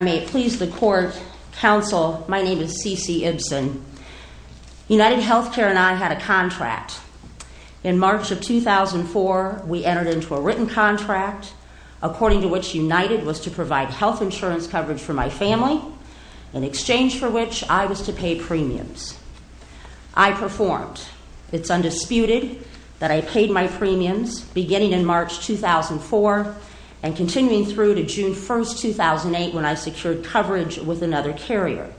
May it please the court, counsel, my name is CeCe Ibson. United Healthcare and I had a contract. In March of 2004, we entered into a written contract, according to which United was to provide health insurance coverage for my family, in exchange for which I was to pay premiums. I performed. It's undisputed that I paid my premiums beginning in March 2004 and continuing through to June 1, 2008, when I secured coverage with another carrier.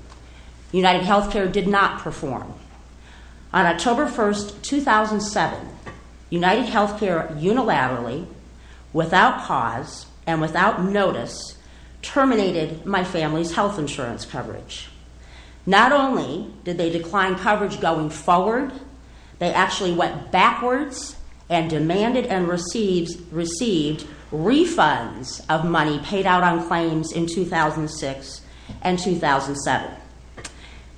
United Healthcare did not perform. On October 1, 2007, United Healthcare unilaterally, without cause and without notice, terminated my family's health insurance coverage. Not only did they decline coverage going forward, they actually went backwards and demanded and received refunds of money paid out on claims in 2006 and 2007.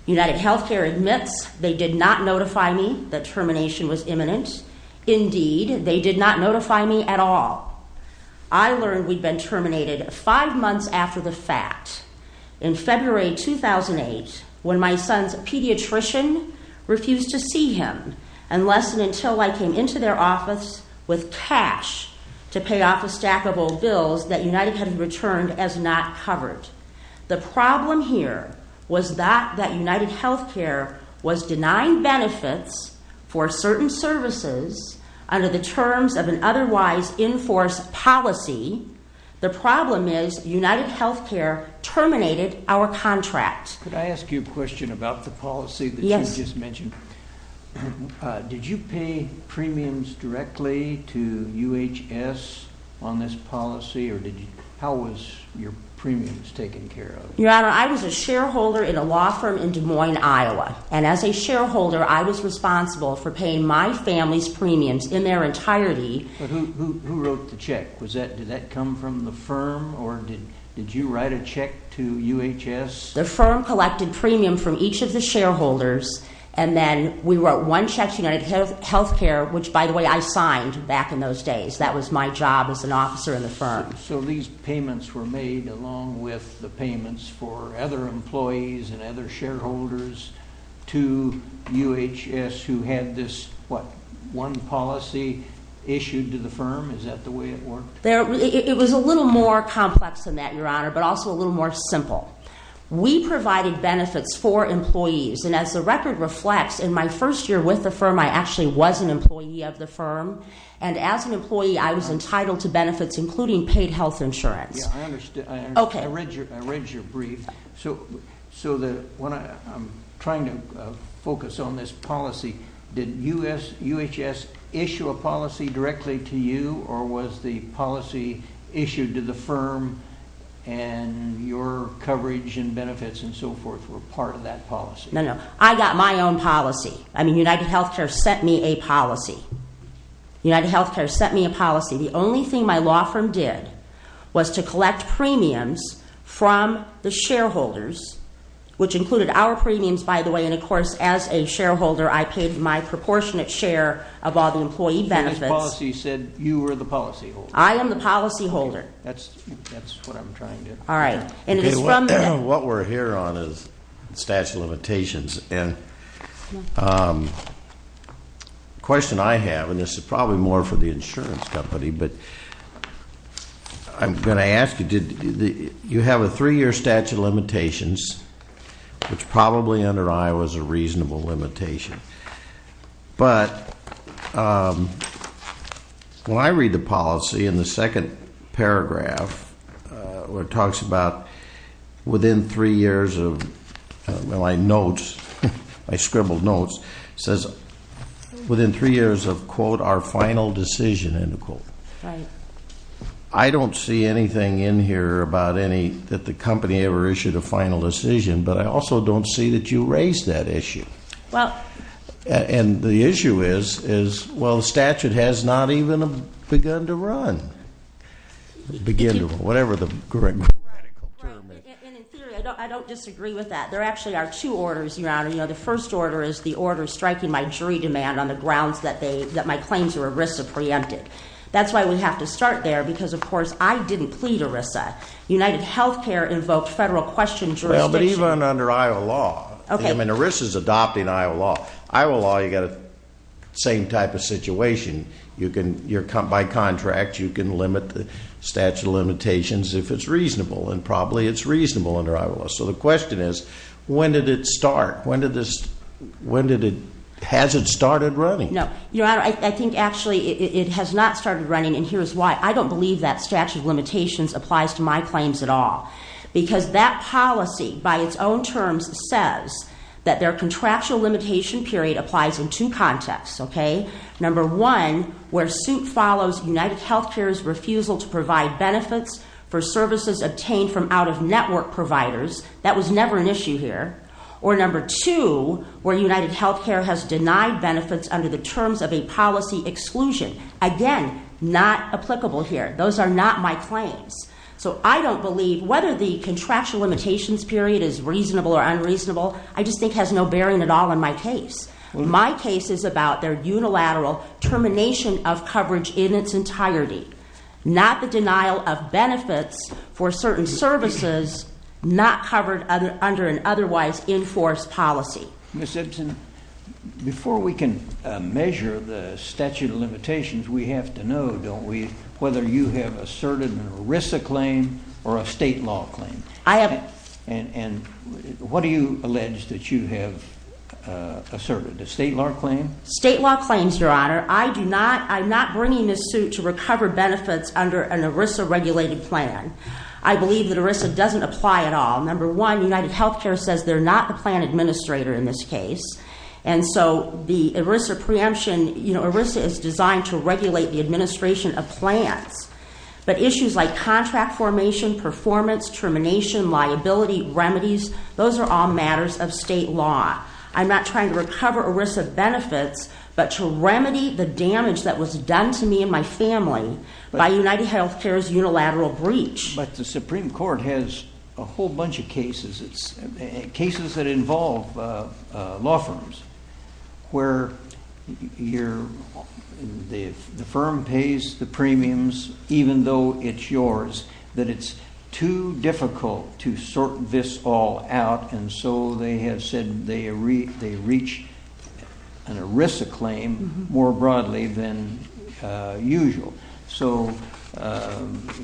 United Healthcare admits they did not notify me that termination was imminent. Indeed, they did not notify me at all. I learned we'd been terminated five months after the fact, in February 2008, when my son's pediatrician refused to see him, unless and until I came into their office with cash to pay off a stack of old bills that United had returned as not covered. The problem here was not that United Healthcare was denying benefits for certain services under the terms of an otherwise enforced policy. The problem is United Healthcare terminated our contract. Could I ask you a question about the policy that you just mentioned? Did you pay premiums directly to UHS on this policy, or how was your premiums taken care of? Your Honor, I was a shareholder in a law firm in Des Moines, Iowa, and as a shareholder, I was responsible for paying my family's premiums in their entirety. But who wrote the check? Did that come from the firm, or did you write a check to UHS? The firm collected premium from each of the shareholders, and then we wrote one check to United Healthcare, which, by the way, I signed back in those days. That was my job as an officer in the firm. So these payments were made along with the payments for other employees and other shareholders to UHS, who had this, what, one policy issued to the firm? Is that the way it worked? It was a little more complex than that, Your Honor, but also a little more simple. We provided benefits for employees, and as the record reflects, in my first year with the firm, I actually was an employee of the firm, and as an employee, I was entitled to benefits, I'm trying to focus on this policy. Did UHS issue a policy directly to you, or was the policy issued to the firm, and your coverage and benefits and so forth were part of that policy? No, no. I got my own policy. I mean, United Healthcare sent me a policy. United Healthcare sent me a policy. The only thing my law firm did was to collect premiums from the shareholders, which included our premiums, by the way, and, of course, as a shareholder, I paid my proportionate share of all the employee benefits. The policy said you were the policy holder. I am the policy holder. Okay. That's what I'm trying to- All right. And it is from- What we're here on is the statute of limitations, and the question I have, and this is probably more for the insurance company, but I'm going to ask you, you have a three-year statute of limitations, which probably under Iowa is a reasonable limitation, but when I read the policy in the second paragraph, where it talks about within three years of, well, I note, I scribble notes, it says within three years of, quote, our final decision, end of quote, I don't see anything in here about any, that the company ever issued a final decision, but I also don't see that you raised that issue. And the issue is, well, the statute has not even begun to run, begin to run, whatever the correct medical term is. And in theory, I don't disagree with that. There actually are two orders, Your Honor. You know, the first order is the order striking my jury demand on the grounds that my claims are ERISA preempted. That's why we have to start there because, of course, I didn't plead ERISA. UnitedHealthcare invoked federal question jurisdiction- Well, but even under Iowa law, I mean, ERISA's adopting Iowa law. Iowa law, you got the same type of situation. By contract, you can limit the statute of limitations if it's reasonable, and probably it's reasonable under Iowa law. So the question is, when did it start? Has it started running? No. Your Honor, I think actually it has not started running, and here's why. I don't believe that statute of limitations applies to my claims at all because that policy, by its own terms, says that their contractual limitation period applies in two contexts, okay? Number one, where suit follows UnitedHealthcare's refusal to provide benefits for services obtained from out-of-network providers. That was never an issue here. Or number two, where UnitedHealthcare has denied benefits under the terms of a policy exclusion. Again, not applicable here. Those are not my claims. So I don't believe, whether the contractual limitations period is reasonable or unreasonable, I just think has no bearing at all in my case. My case is about their unilateral termination of coverage in its entirety, not the denial of benefits for certain services not covered under an otherwise enforced policy. Ms. Ibsen, before we can measure the statute of limitations, we have to know, don't we, whether you have asserted an ERISA claim or a state law claim. And what do you allege that you have asserted? A state law claim? State law claims, Your Honor. I do not, I'm not bringing this suit to recover benefits under an ERISA regulated plan. I believe that ERISA doesn't apply at all. Number one, UnitedHealthcare says they're not the plan administrator in this case. And so the ERISA preemption, you know, ERISA is designed to regulate the administration of plans. But issues like contract formation, performance, termination, liability, remedies, those are all ERISA benefits, but to remedy the damage that was done to me and my family by UnitedHealthcare's unilateral breach. But the Supreme Court has a whole bunch of cases. It's cases that involve law firms where the firm pays the premiums, even though it's yours, that it's too difficult to sort this all out. And so they have said they reach an ERISA claim more broadly than usual. So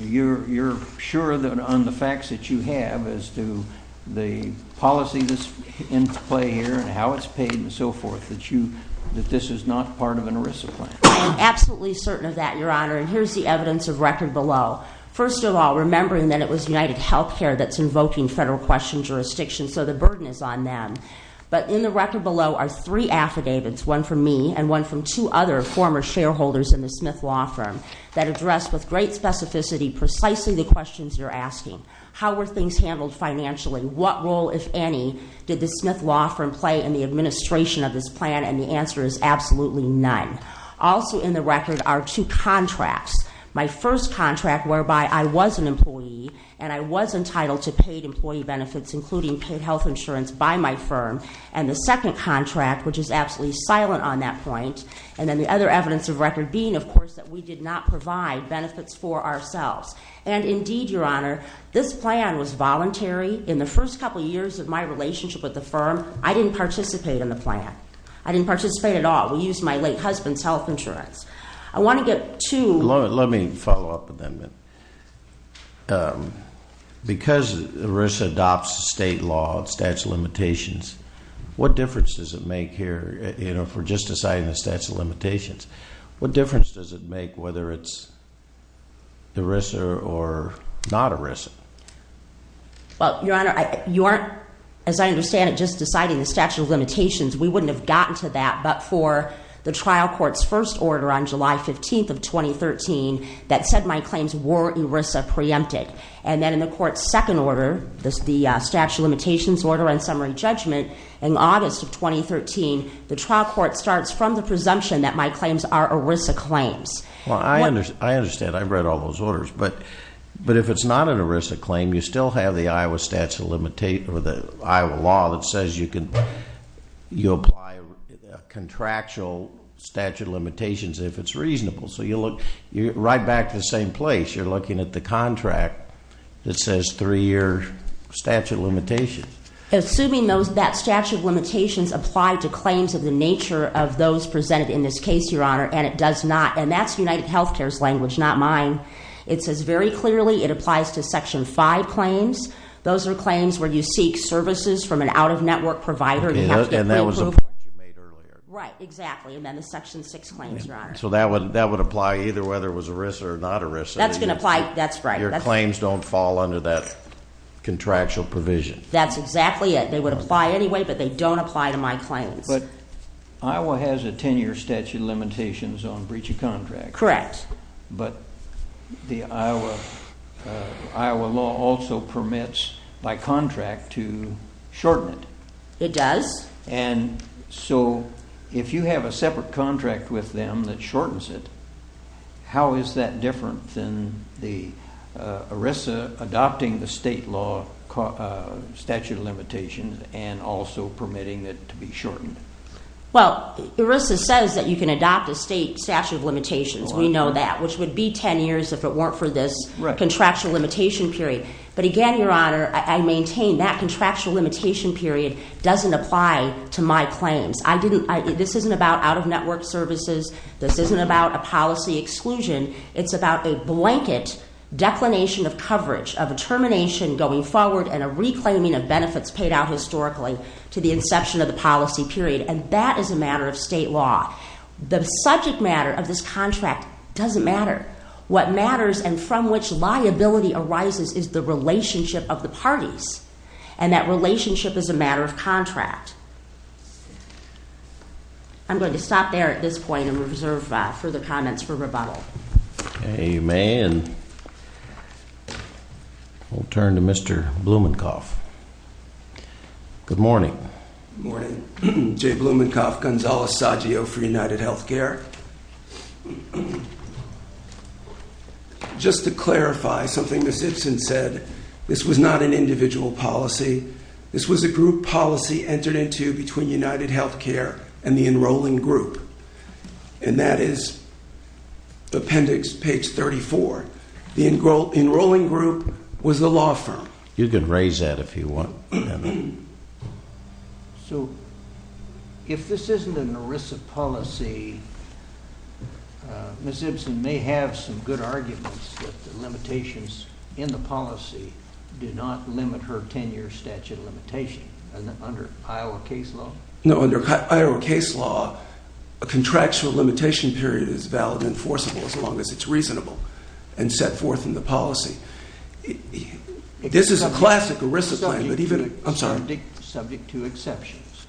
you're sure that on the facts that you have as to the policy that's in play here and how it's paid and so forth, that you, that this is not part of an ERISA plan? Absolutely certain of that, Your Honor. And here's the evidence of record below. First of all, remembering that it was UnitedHealthcare that's invoking federal question jurisdiction, so the burden is on them. But in the record below are three affidavits, one from me and one from two other former shareholders in the Smith Law Firm, that address with great specificity precisely the questions you're asking. How were things handled financially? What role, if any, did the Smith Law Firm play in the administration of this plan? And the answer is absolutely none. Also in the record are two contracts. My first contract, whereby I was an employee and I was entitled to paid employee benefits, including paid health insurance by my firm. And the second contract, which is absolutely silent on that point. And then the other evidence of record being, of course, that we did not provide benefits for ourselves. And indeed, Your Honor, this plan was voluntary. In the first couple of years of my relationship with the firm, I didn't participate in the plan. I didn't participate at all. We used my late husband's health insurance. I want to get to... Let me follow up with that a minute. Because ERISA adopts state law and statute of limitations, what difference does it make here, you know, if we're just deciding the statute of limitations, what difference does it make whether it's ERISA or not ERISA? Well, Your Honor, you aren't, as I understand it, just deciding the statute of limitations. We wouldn't have gotten to that. But for the trial court's first order on July 15th of 2013 that said my claims were ERISA preempted. And then in the court's second order, the statute of limitations order and summary judgment in August of 2013, the trial court starts from the presumption that my claims are ERISA claims. Well, I understand. I've read all those orders. But if it's not an ERISA claim, you still have the Iowa statute of limitations or the Iowa law that says you apply a contractual statute of limitations if it's reasonable. So you're right back to the same place. You're looking at the contract that says three-year statute of limitations. Assuming that statute of limitations apply to claims of the nature of those presented in this case, Your Honor, and it does not. And that's UnitedHealthcare's language, not mine. It says very clearly it applies to Section 5 claims. Those are claims where you seek services from an out-of-network provider. You have to get preapproval. And that was a point you made earlier. Right. Exactly. And then the Section 6 claims, Your Honor. So that would apply either whether it was ERISA or not ERISA. That's going to apply. That's right. Your claims don't fall under that contractual provision. That's exactly it. They would apply anyway, but they don't apply to my claims. But Iowa has a 10-year statute of limitations on breach of contract. Correct. But the Iowa law also permits by contract to shorten it. It does. And so if you have a separate contract with them that shortens it, how is that different than the Well, ERISA says that you can adopt a state statute of limitations. We know that, which would be 10 years if it weren't for this contractual limitation period. But again, Your Honor, I maintain that contractual limitation period doesn't apply to my claims. This isn't about out-of-network services. This isn't about a policy exclusion. It's about a blanket declination of coverage of a termination going forward and a reclaiming benefits paid out historically to the inception of the policy period. And that is a matter of state law. The subject matter of this contract doesn't matter. What matters and from which liability arises is the relationship of the parties. And that relationship is a matter of contract. I'm going to stop there at this point and reserve further comments for rebuttal. Okay, you may. And we'll turn to Mr. Blumenkopf. Good morning. Good morning. Jay Blumenkopf, Gonzales-Saggio for UnitedHealthcare. Just to clarify something Ms. Ibsen said, this was not an individual policy. This was a group policy entered into between UnitedHealthcare and the enrolling group. And that is appendix page 34. The enrolling group was the law firm. You can raise that if you want. So if this isn't an ERISA policy, Ms. Ibsen may have some good arguments that the limitations in the policy do not limit her 10-year statute of limitation under Iowa case law? No, under Iowa case law, a contractual limitation period is valid and enforceable as long as it's reasonable and set forth in the policy. This is a classic ERISA plan, but even... I'm sorry. Subject to exceptions.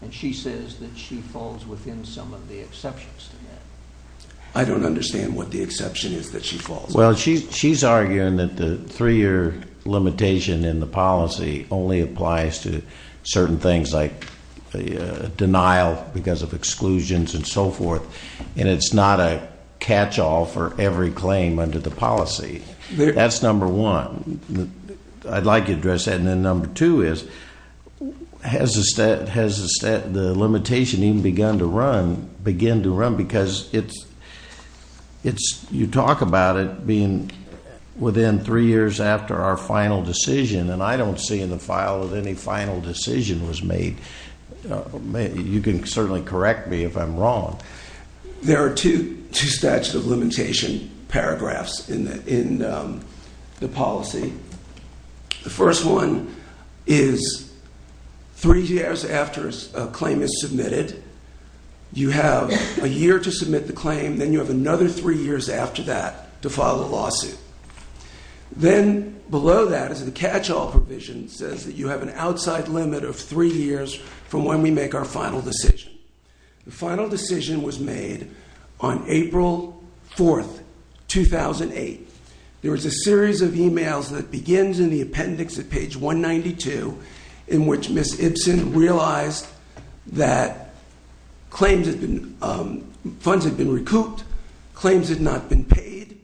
And she says that she falls within some of the exceptions to that. I don't understand what the exception is that she falls. Well, she's arguing that the three-year limitation in the policy only applies to certain things like denial because of exclusions and so forth. And it's not a catch-all for every claim under the policy. That's number one. I'd like to address that. And then number two is, has the limitation even begun to run? Begin to run? Because you talk about it being within three years after our final decision, and I don't see in the file that any final decision was made. You can certainly correct me if I'm wrong. There are two statute of limitation paragraphs in the policy. The first one is three years after a claim is submitted. You have a year to submit the claim. Then you have another three years after that to file a lawsuit. Then below that is the catch-all provision says that you have an outside limit of three years from when we make our final decision. The final decision was made on April 4, 2008. There was a series of emails that begins in the appendix at page 192 in which Ms. Ibsen realized that funds had been recouped, claims had not been paid,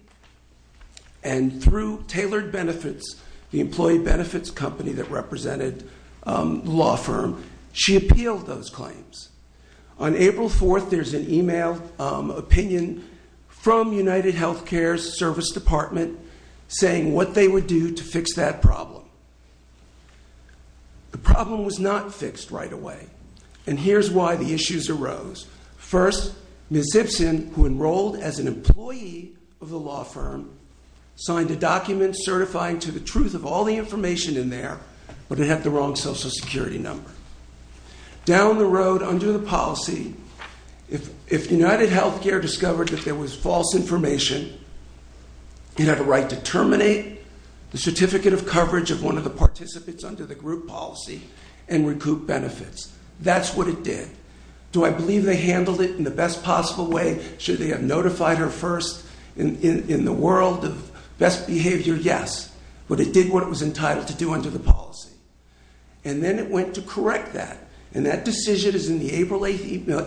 and through Tailored Benefits, the employee benefits company that represented the law firm, she appealed those claims. On April 4, there's an email opinion from UnitedHealthcare's service department saying what they would do to fix that problem. The problem was not fixed right away, and here's why the issues arose. First, Ms. Ibsen, who enrolled as an employee of the law firm, signed a document certifying to the truth of all the information in there, but it had the wrong Social Security number. Down the road under the policy, if UnitedHealthcare discovered that there was false information, it had a right to terminate the certificate of coverage of one of the participants under the group policy and recoup benefits. That's what it did. Do I believe they handled it in the best possible way? Should they have notified her first in the world of best behavior? Yes, but it did what it was entitled to do under the policy, and then it went to correct that, and that decision is in the April 8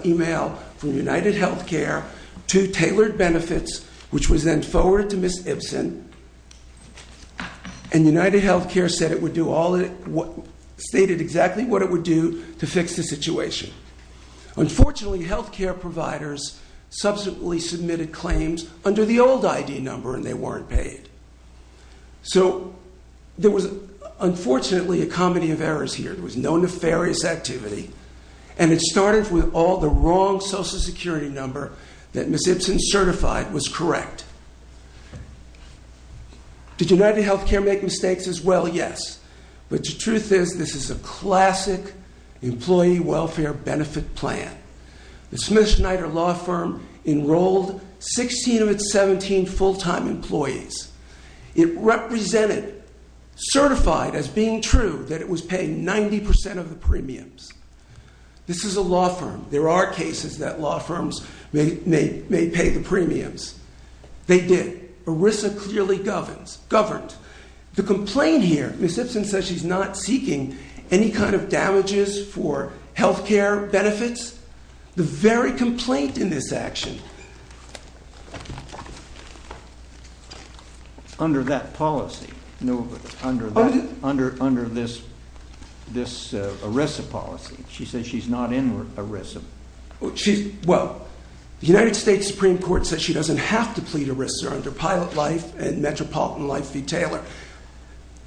email from UnitedHealthcare to Tailored Benefits, which was then forwarded to Ms. Ibsen, and UnitedHealthcare stated exactly what it would do to fix the situation. Unfortunately, healthcare providers subsequently submitted claims under the old ID number, and they weren't paid. So there was, unfortunately, a comedy of errors here. There was no nefarious activity, and it started with all the wrong Social Security number that Ms. Ibsen certified was correct. Did UnitedHealthcare make mistakes as well? Yes, but the truth is this is a classic employee welfare benefit plan. The Smith Schneider Law Firm enrolled 16 of its 17 full-time employees. It represented, certified as being true that it was paying 90% of the premiums. This is a law firm. There are cases that law firms may pay the premiums. They did. ERISA clearly governed. The complaint here, Ms. Ibsen says she's not seeking any kind of damages for healthcare benefits. The very complaint in this action. Under that policy? No, but under this ERISA policy. She says she's not in ERISA. Well, the United States Supreme Court says she doesn't have to plead ERISA under Pilot Life and Metropolitan Life v. Taylor.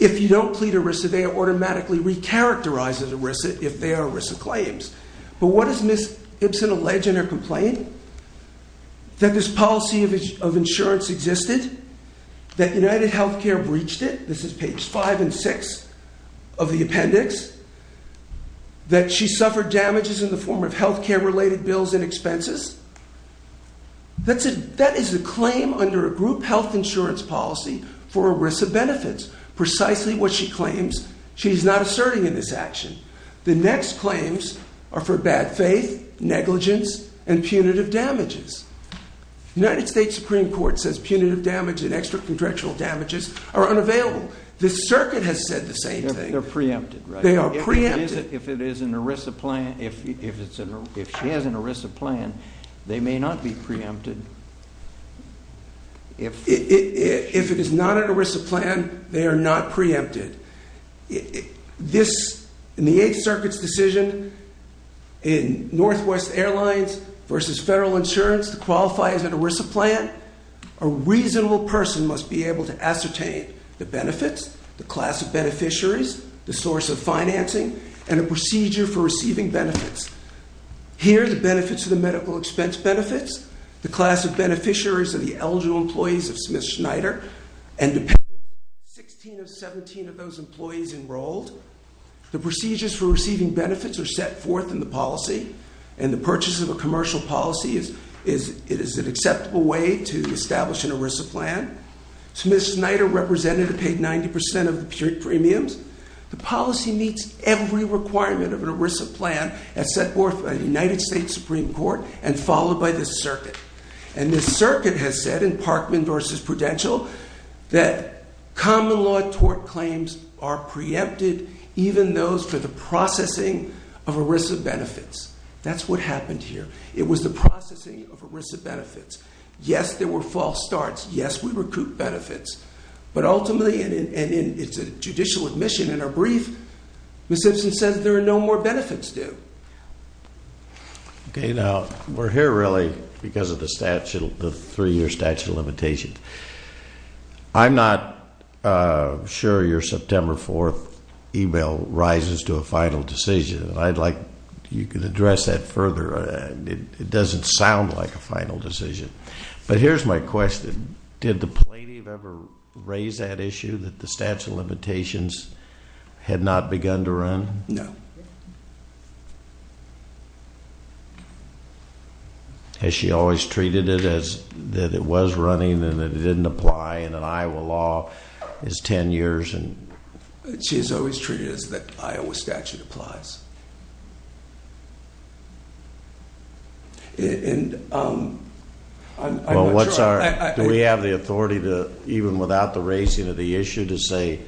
If you don't plead ERISA, they automatically recharacterize as ERISA if they are ERISA claims. But what does Ms. Ibsen allege in her complaint? That this policy of insurance existed? That UnitedHealthcare breached it? This is page 5 and 6 of the appendix. That she suffered damages in the form of healthcare-related bills and expenses? That is a claim under a group health insurance policy for ERISA benefits. Precisely what she claims. She's not asserting in this action. The next claims are for bad faith, negligence, and punitive damages. United States Supreme Court says punitive damage and extracondructional damages are unavailable. The circuit has said the same thing. They're preempted, right? They are preempted. If it is an ERISA plan, if she has an ERISA plan, they may not be preempted. If it is not an ERISA plan, they are not preempted. In the Eighth Circuit's decision in Northwest Airlines v. Federal Insurance to qualify as an ERISA plan, a reasonable person must be able to ascertain the benefits, the class of beneficiaries, the source of financing, and a procedure for receiving benefits. Here are the benefits of the medical expense benefits, the class of beneficiaries of the eligible employees of Smith-Schneider, and depending on whether it's 16 of 17 of those employees enrolled. The procedures for receiving benefits are set forth in the policy, and the purchase of a commercial policy is an acceptable way to establish an ERISA plan. Smith-Schneider represented a paid 90% of the premiums. The policy meets every requirement of an ERISA plan as set forth by the United States Supreme Court and followed by the circuit. And the circuit has said in Parkman v. Prudential that common law tort claims are preempted even those for the processing of ERISA benefits. That's what happened here. It was the processing of ERISA benefits. Yes, there were false starts. Yes, we recouped benefits. But ultimately, and it's a judicial admission in our brief, Ms. Simpson says there are no more benefits due. Okay, now, we're here really because of the statute, the three-year statute of limitations. I'm not sure your September 4th email rises to a final decision. I'd like you could address that further. It doesn't sound like a final decision. But here's my question. Did the plaintiff ever raise that issue that the statute of limitations had not begun to run? No. Has she always treated it as that it was running and that it didn't apply in an Iowa law is 10 years? She has always treated it as the Iowa statute applies. Do we have the authority to, even without the raising of the issue, to say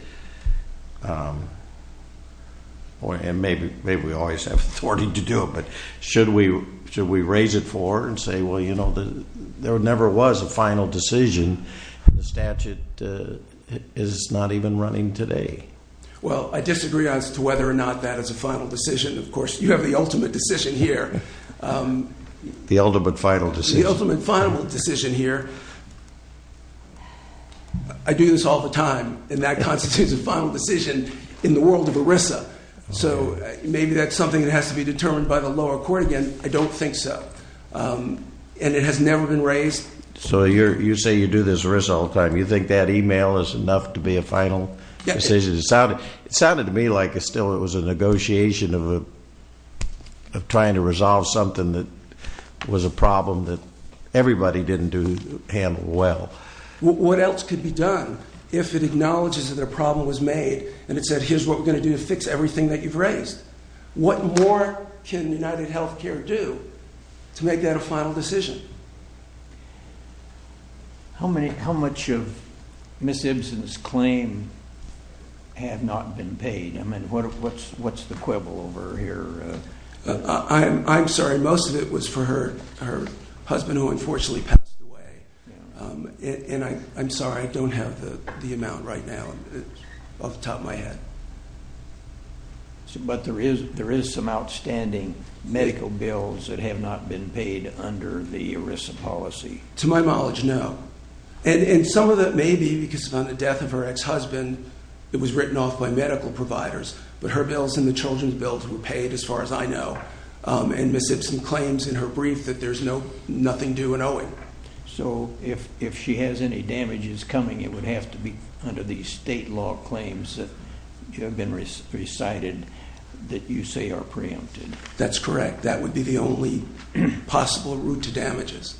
or maybe we always have authority to do it, but should we raise it for and say, well, you know, there never was a final decision. The statute is not even running today. Well, I disagree as to whether or not that is a final decision. Of course, you have the ultimate decision here. The ultimate final decision. The ultimate final decision here. I do this all the time. And that constitutes a final decision in the world of ERISA. So maybe that's something that has to be determined by the lower court again. I don't think so. And it has never been raised. So you say you do this ERISA all the time. You think that email is enough to be a final decision? It sounded to me like it still was a negotiation of trying to resolve something that was a problem that everybody didn't do. And well, what else could be done if it acknowledges that a problem was made and it said, here's what we're going to do to fix everything that you've raised. What more can UnitedHealthcare do to make that a final decision? How many, how much of Ms. Ibsen's claim have not been paid? I mean, what's the quibble over here? I'm sorry. Most of it was for her husband who unfortunately passed away. And I'm sorry, I don't have the amount right now off the top of my head. But there is some outstanding medical bills that have not been paid under the ERISA policy? To my knowledge, no. And some of that may be because on the death of her ex-husband, it was written off by medical providers, but her bills and the children's bills were paid as far as I know. And Ms. Ibsen claims in her brief that there's nothing due in owing. So if she has any damages coming, it would have to be under these state law claims that have been recited that you say are preempted? That's correct. That would be the only possible route to damages.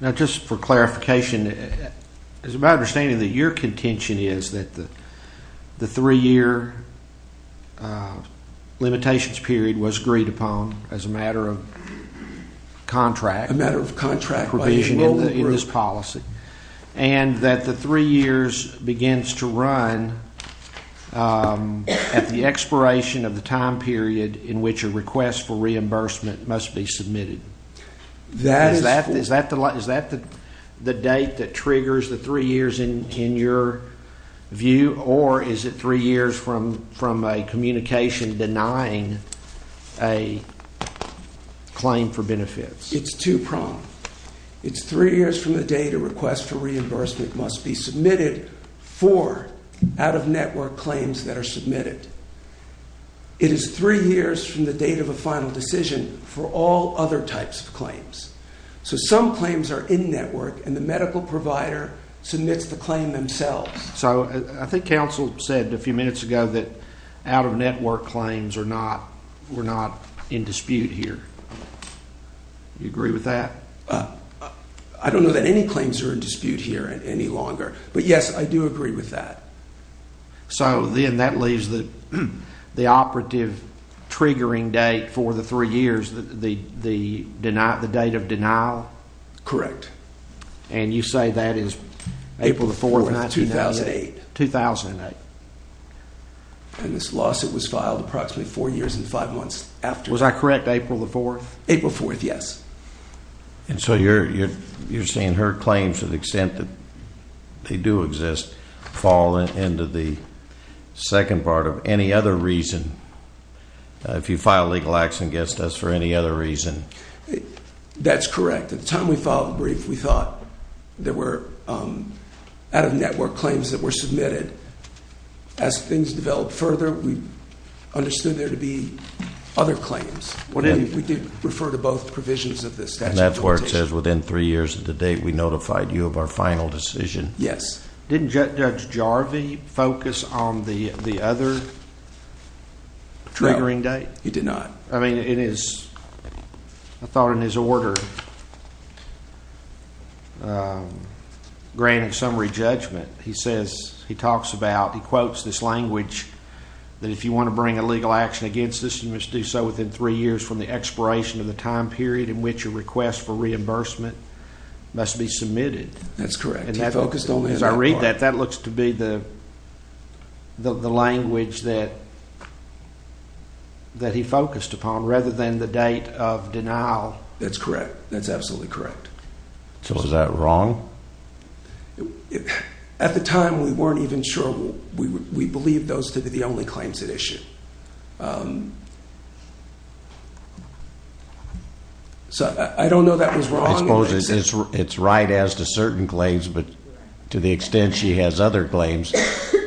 Now, just for clarification, it's my understanding that your contention is that the three-year limitations period was agreed upon as a matter of contract. A matter of contract. Provision in this policy. And that the three years begins to run at the expiration of the time period in which a request for reimbursement must be submitted. Is that the date that triggers the three years in your view? Or is it three years from a communication denying a claim for benefits? It's two-pronged. It's three years from the date a request for reimbursement must be submitted for out-of-network claims that are submitted. It is three years from the date of a final decision for all other types of claims. So some claims are in-network and the medical provider submits the claim themselves. So I think counsel said a few minutes ago that out-of-network claims were not in dispute here. You agree with that? I don't know that any claims are in dispute here any longer. But yes, I do agree with that. So then that leaves the operative triggering date for the three years, the date of denial? Correct. And you say that is April the 4th, 1998? 2008. And this lawsuit was filed approximately four years and five months after? Was I correct? April the 4th? April 4th, yes. And so you're saying her claims to the extent that they do exist fall into the second part of any other reason. If you file legal acts against us for any other reason. That's correct. At the time we filed the brief, we thought there were out-of-network claims that were submitted. As things developed further, we understood there to be other claims. We did refer to both provisions of the statute of limitations. And that's where it says within three years of the date, we notified you of our final decision? Yes. Didn't Judge Jarvie focus on the other triggering date? He did not. I mean, I thought in his order, granting summary judgment, he quotes this language that if you want to bring a legal action against us, you must do so within three years from the expiration of the time period in which a request for reimbursement must be submitted. That's correct. He focused on that. As I read that, that looks to be the language that he focused upon rather than the date of denial. That's correct. That's absolutely correct. So is that wrong? At the time, we weren't even sure. We believed those to be the only claims at issue. So I don't know that was wrong. It's right as to certain claims, but to the extent she has other claims,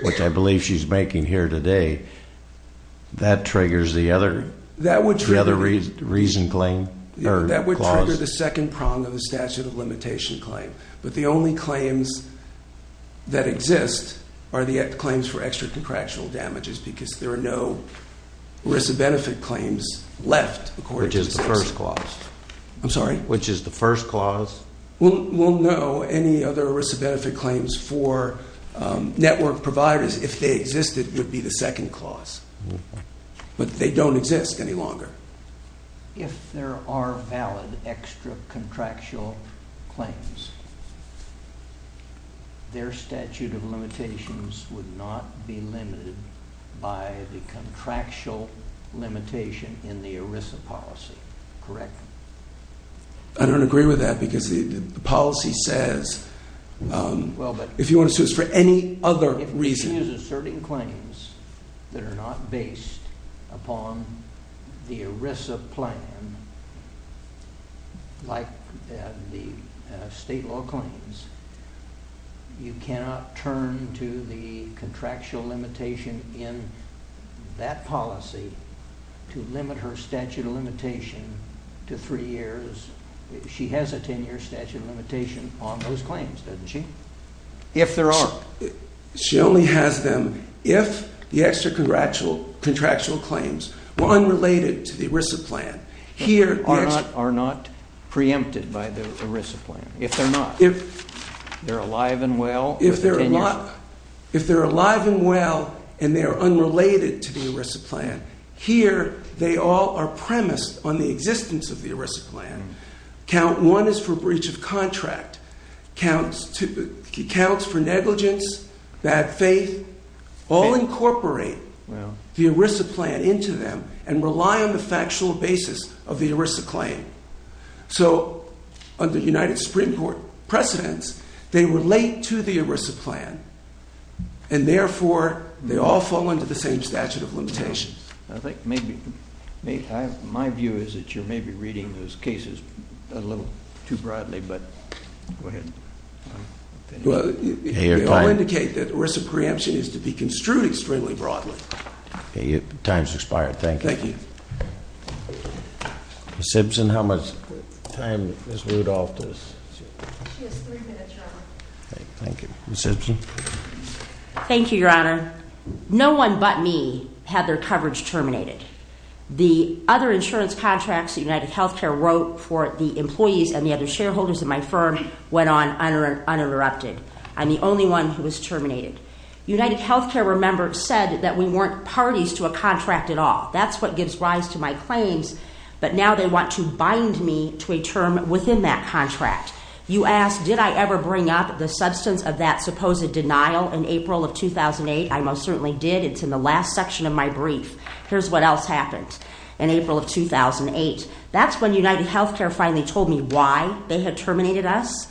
which I believe she's making here today, that triggers the other reason claim? That would trigger the second prong of the statute of limitation claim. But the only claims that exist are the claims for extra contractual damages, because there are no risk of benefit claims left, according to the statute. Which is the first clause. I'm sorry? Which is the first clause. Well, no. Any other risk of benefit claims for network providers, if they existed, would be the second clause. But they don't exist any longer. If there are valid extra contractual claims, their statute of limitations would not be limited by the contractual limitation in the ERISA policy, correct? I don't agree with that, because the policy says, if you want to sue us for any other reason. If she is asserting claims that are not based upon the ERISA plan, like the state law claims, you cannot turn to the contractual limitation in that policy to limit her statute of limitation to three years. She has a 10-year statute of limitation on those claims, doesn't she? If there are. She only has them if the extra contractual claims were unrelated to the ERISA plan. If they are not preempted by the ERISA plan. If they're not. They're alive and well. If they're alive and well, and they're unrelated to the ERISA plan. Here, they all are premised on the existence of the ERISA plan. Count one is for breach of contract, counts for negligence, bad faith, all incorporate the ERISA plan into them and rely on the factual basis of the ERISA claim. So, under United Supreme Court precedents, they relate to the ERISA plan. And therefore, they all fall under the same statute of limitations. I think maybe, my view is that you may be reading those cases a little too broadly, but go ahead. Well, they all indicate that ERISA preemption is to be construed extremely broadly. Time's expired, thank you. Thank you. Ms. Simpson, how much time does Ms. Rudolph has? She has three minutes, Your Honor. Okay, thank you. Ms. Simpson. Thank you, Your Honor. No one but me had their coverage terminated. The other insurance contracts UnitedHealthcare wrote for the employees and the other shareholders in my firm went on uninterrupted. I'm the only one who was terminated. UnitedHealthcare, remember, said that we weren't parties to a contract at all. That's what gives rise to my claims. But now they want to bind me to a term within that contract. You asked, did I ever bring up the substance of that supposed denial in April of 2008? I most certainly did. It's in the last section of my brief. Here's what else happened in April of 2008. That's when UnitedHealthcare finally told me why they had terminated us.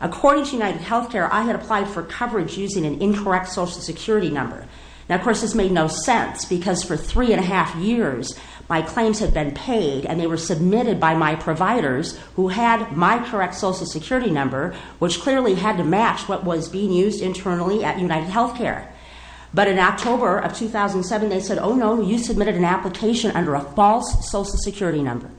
According to UnitedHealthcare, I had applied for coverage using an incorrect social security number. Now, of course, this made no sense because for three and a half years, my claims had been paid and they were submitted by my providers who had my correct social security number, which clearly had to match what was being used internally at UnitedHealthcare. But in October of 2007, they said, oh, no, you submitted an application under a false social security number.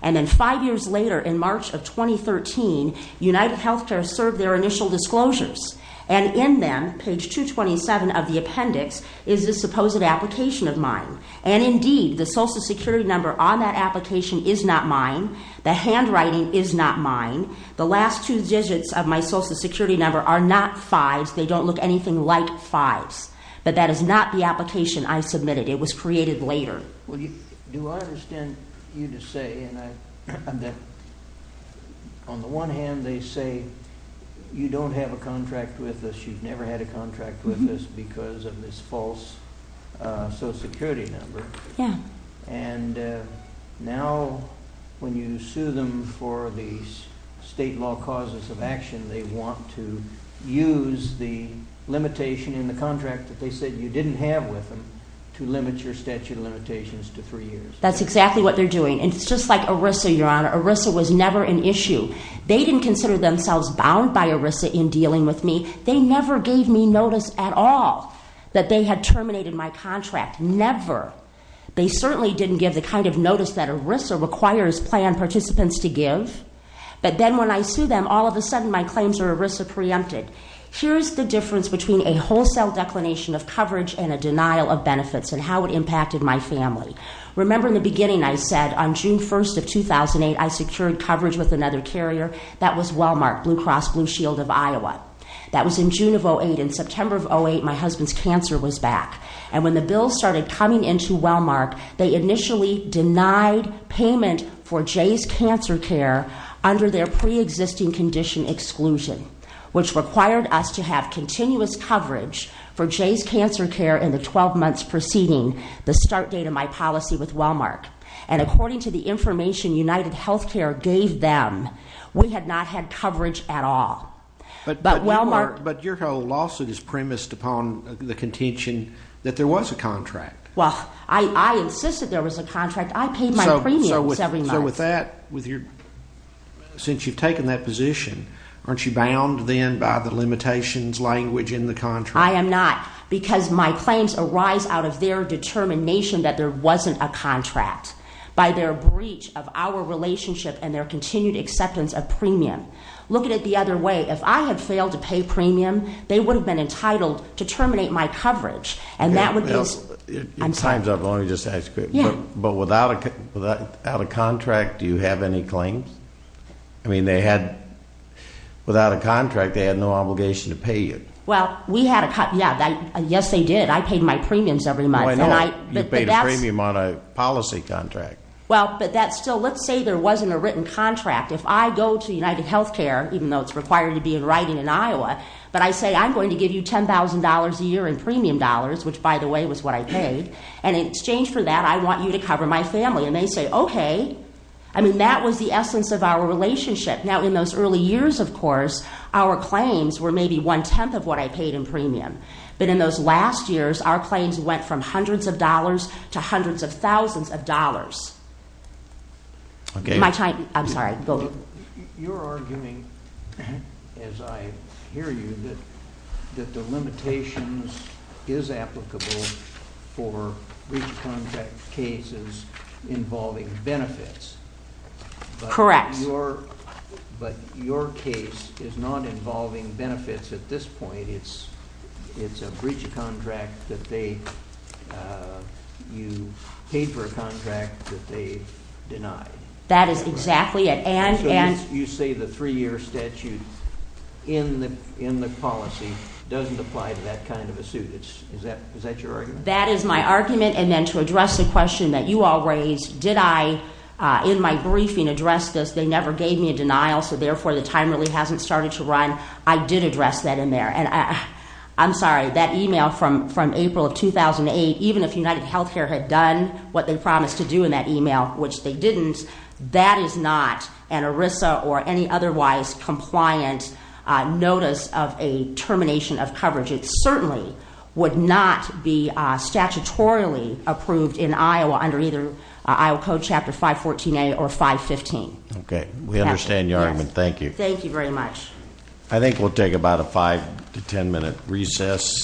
And then five years later, in March of 2013, UnitedHealthcare served their initial disclosures. And in them, page 227 of the appendix, is the supposed application of mine. And indeed, the social security number on that application is not mine. The handwriting is not mine. The last two digits of my social security number are not fives. They don't look anything like fives. But that is not the application I submitted. It was created later. Well, do I understand you to say, on the one hand, they say, you don't have a contract with us. You've never had a contract with us because of this false social security number. Yeah. And now, when you sue them for the state law causes of action, they want to use the limitation in the contract that they said you didn't have with them to limit your statute of limitations to three years. That's exactly what they're doing. And it's just like ERISA, Your Honor. ERISA was never an issue. They didn't consider themselves bound by ERISA in dealing with me. They never gave me notice at all that they had terminated my contract. Never. They certainly didn't give the kind of notice that ERISA requires plan participants to give. But then, when I sue them, all of a sudden, my claims are ERISA preempted. Here's the difference between a wholesale declination of coverage and a denial of benefits and how it impacted my family. Remember, in the beginning, I said, on June 1st of 2008, I secured coverage with another carrier. That was Walmart, Blue Cross Blue Shield of Iowa. That was in June of 08. In September of 08, my husband's cancer was back. And when the bill started coming into Walmart, they initially denied payment for Jay's Cancer Care under their pre-existing condition exclusion, which required us to have continuous coverage for Jay's Cancer Care in the 12 months preceding the start date of my policy with Walmart. And according to the information UnitedHealthcare gave them, we had not had coverage at all. But your whole lawsuit is premised upon the contention that there was a contract. Well, I insisted there was a contract. I paid my premiums every month. So with that, since you've taken that position, aren't you bound then by the limitations language in the contract? I am not, because my claims arise out of their determination that there wasn't a contract by their breach of our relationship and their continued acceptance of premium. Look at it the other way. If I had failed to pay premium, they would have been entitled to terminate my coverage. And that would be- Well, your time's up. Let me just ask you quick. Yeah. But without a contract, do you have any claims? I mean, without a contract, they had no obligation to pay you. Well, yes, they did. I paid my premiums every month. Well, I know. You paid a premium on a policy contract. Well, but that's still, let's say there wasn't a written contract. If I go to UnitedHealthcare, even though it's required to be in writing in Iowa, but I say, I'm going to give you $10,000 a year in premium dollars, which, by the way, was what I paid. And in exchange for that, I want you to cover my family. And they say, OK. I mean, that was the essence of our relationship. Now, in those early years, of course, our claims were maybe one-tenth of what I paid in premium. But in those last years, our claims went from hundreds of dollars to hundreds of thousands of dollars. OK. I'm sorry. You're arguing, as I hear you, that the limitations is applicable for breach of contract cases involving benefits. Correct. But your case is not involving benefits at this point. It's a breach of contract that you paid for a contract that they denied. That is exactly it. And you say the three-year statute in the policy doesn't apply to that kind of a suit. Is that your argument? That is my argument. And then to address the question that you all raised, did I, in my briefing, address this? They never gave me a denial. So therefore, the time really hasn't started to run. I did address that in there. And I'm sorry, that email from April of 2008, even if UnitedHealthcare had done what they didn't, that is not an ERISA or any otherwise compliant notice of a termination of coverage. It certainly would not be statutorily approved in Iowa under either Iowa Code Chapter 514a or 515. OK. We understand your argument. Thank you. Thank you very much. I think we'll take about a five to ten minute recess.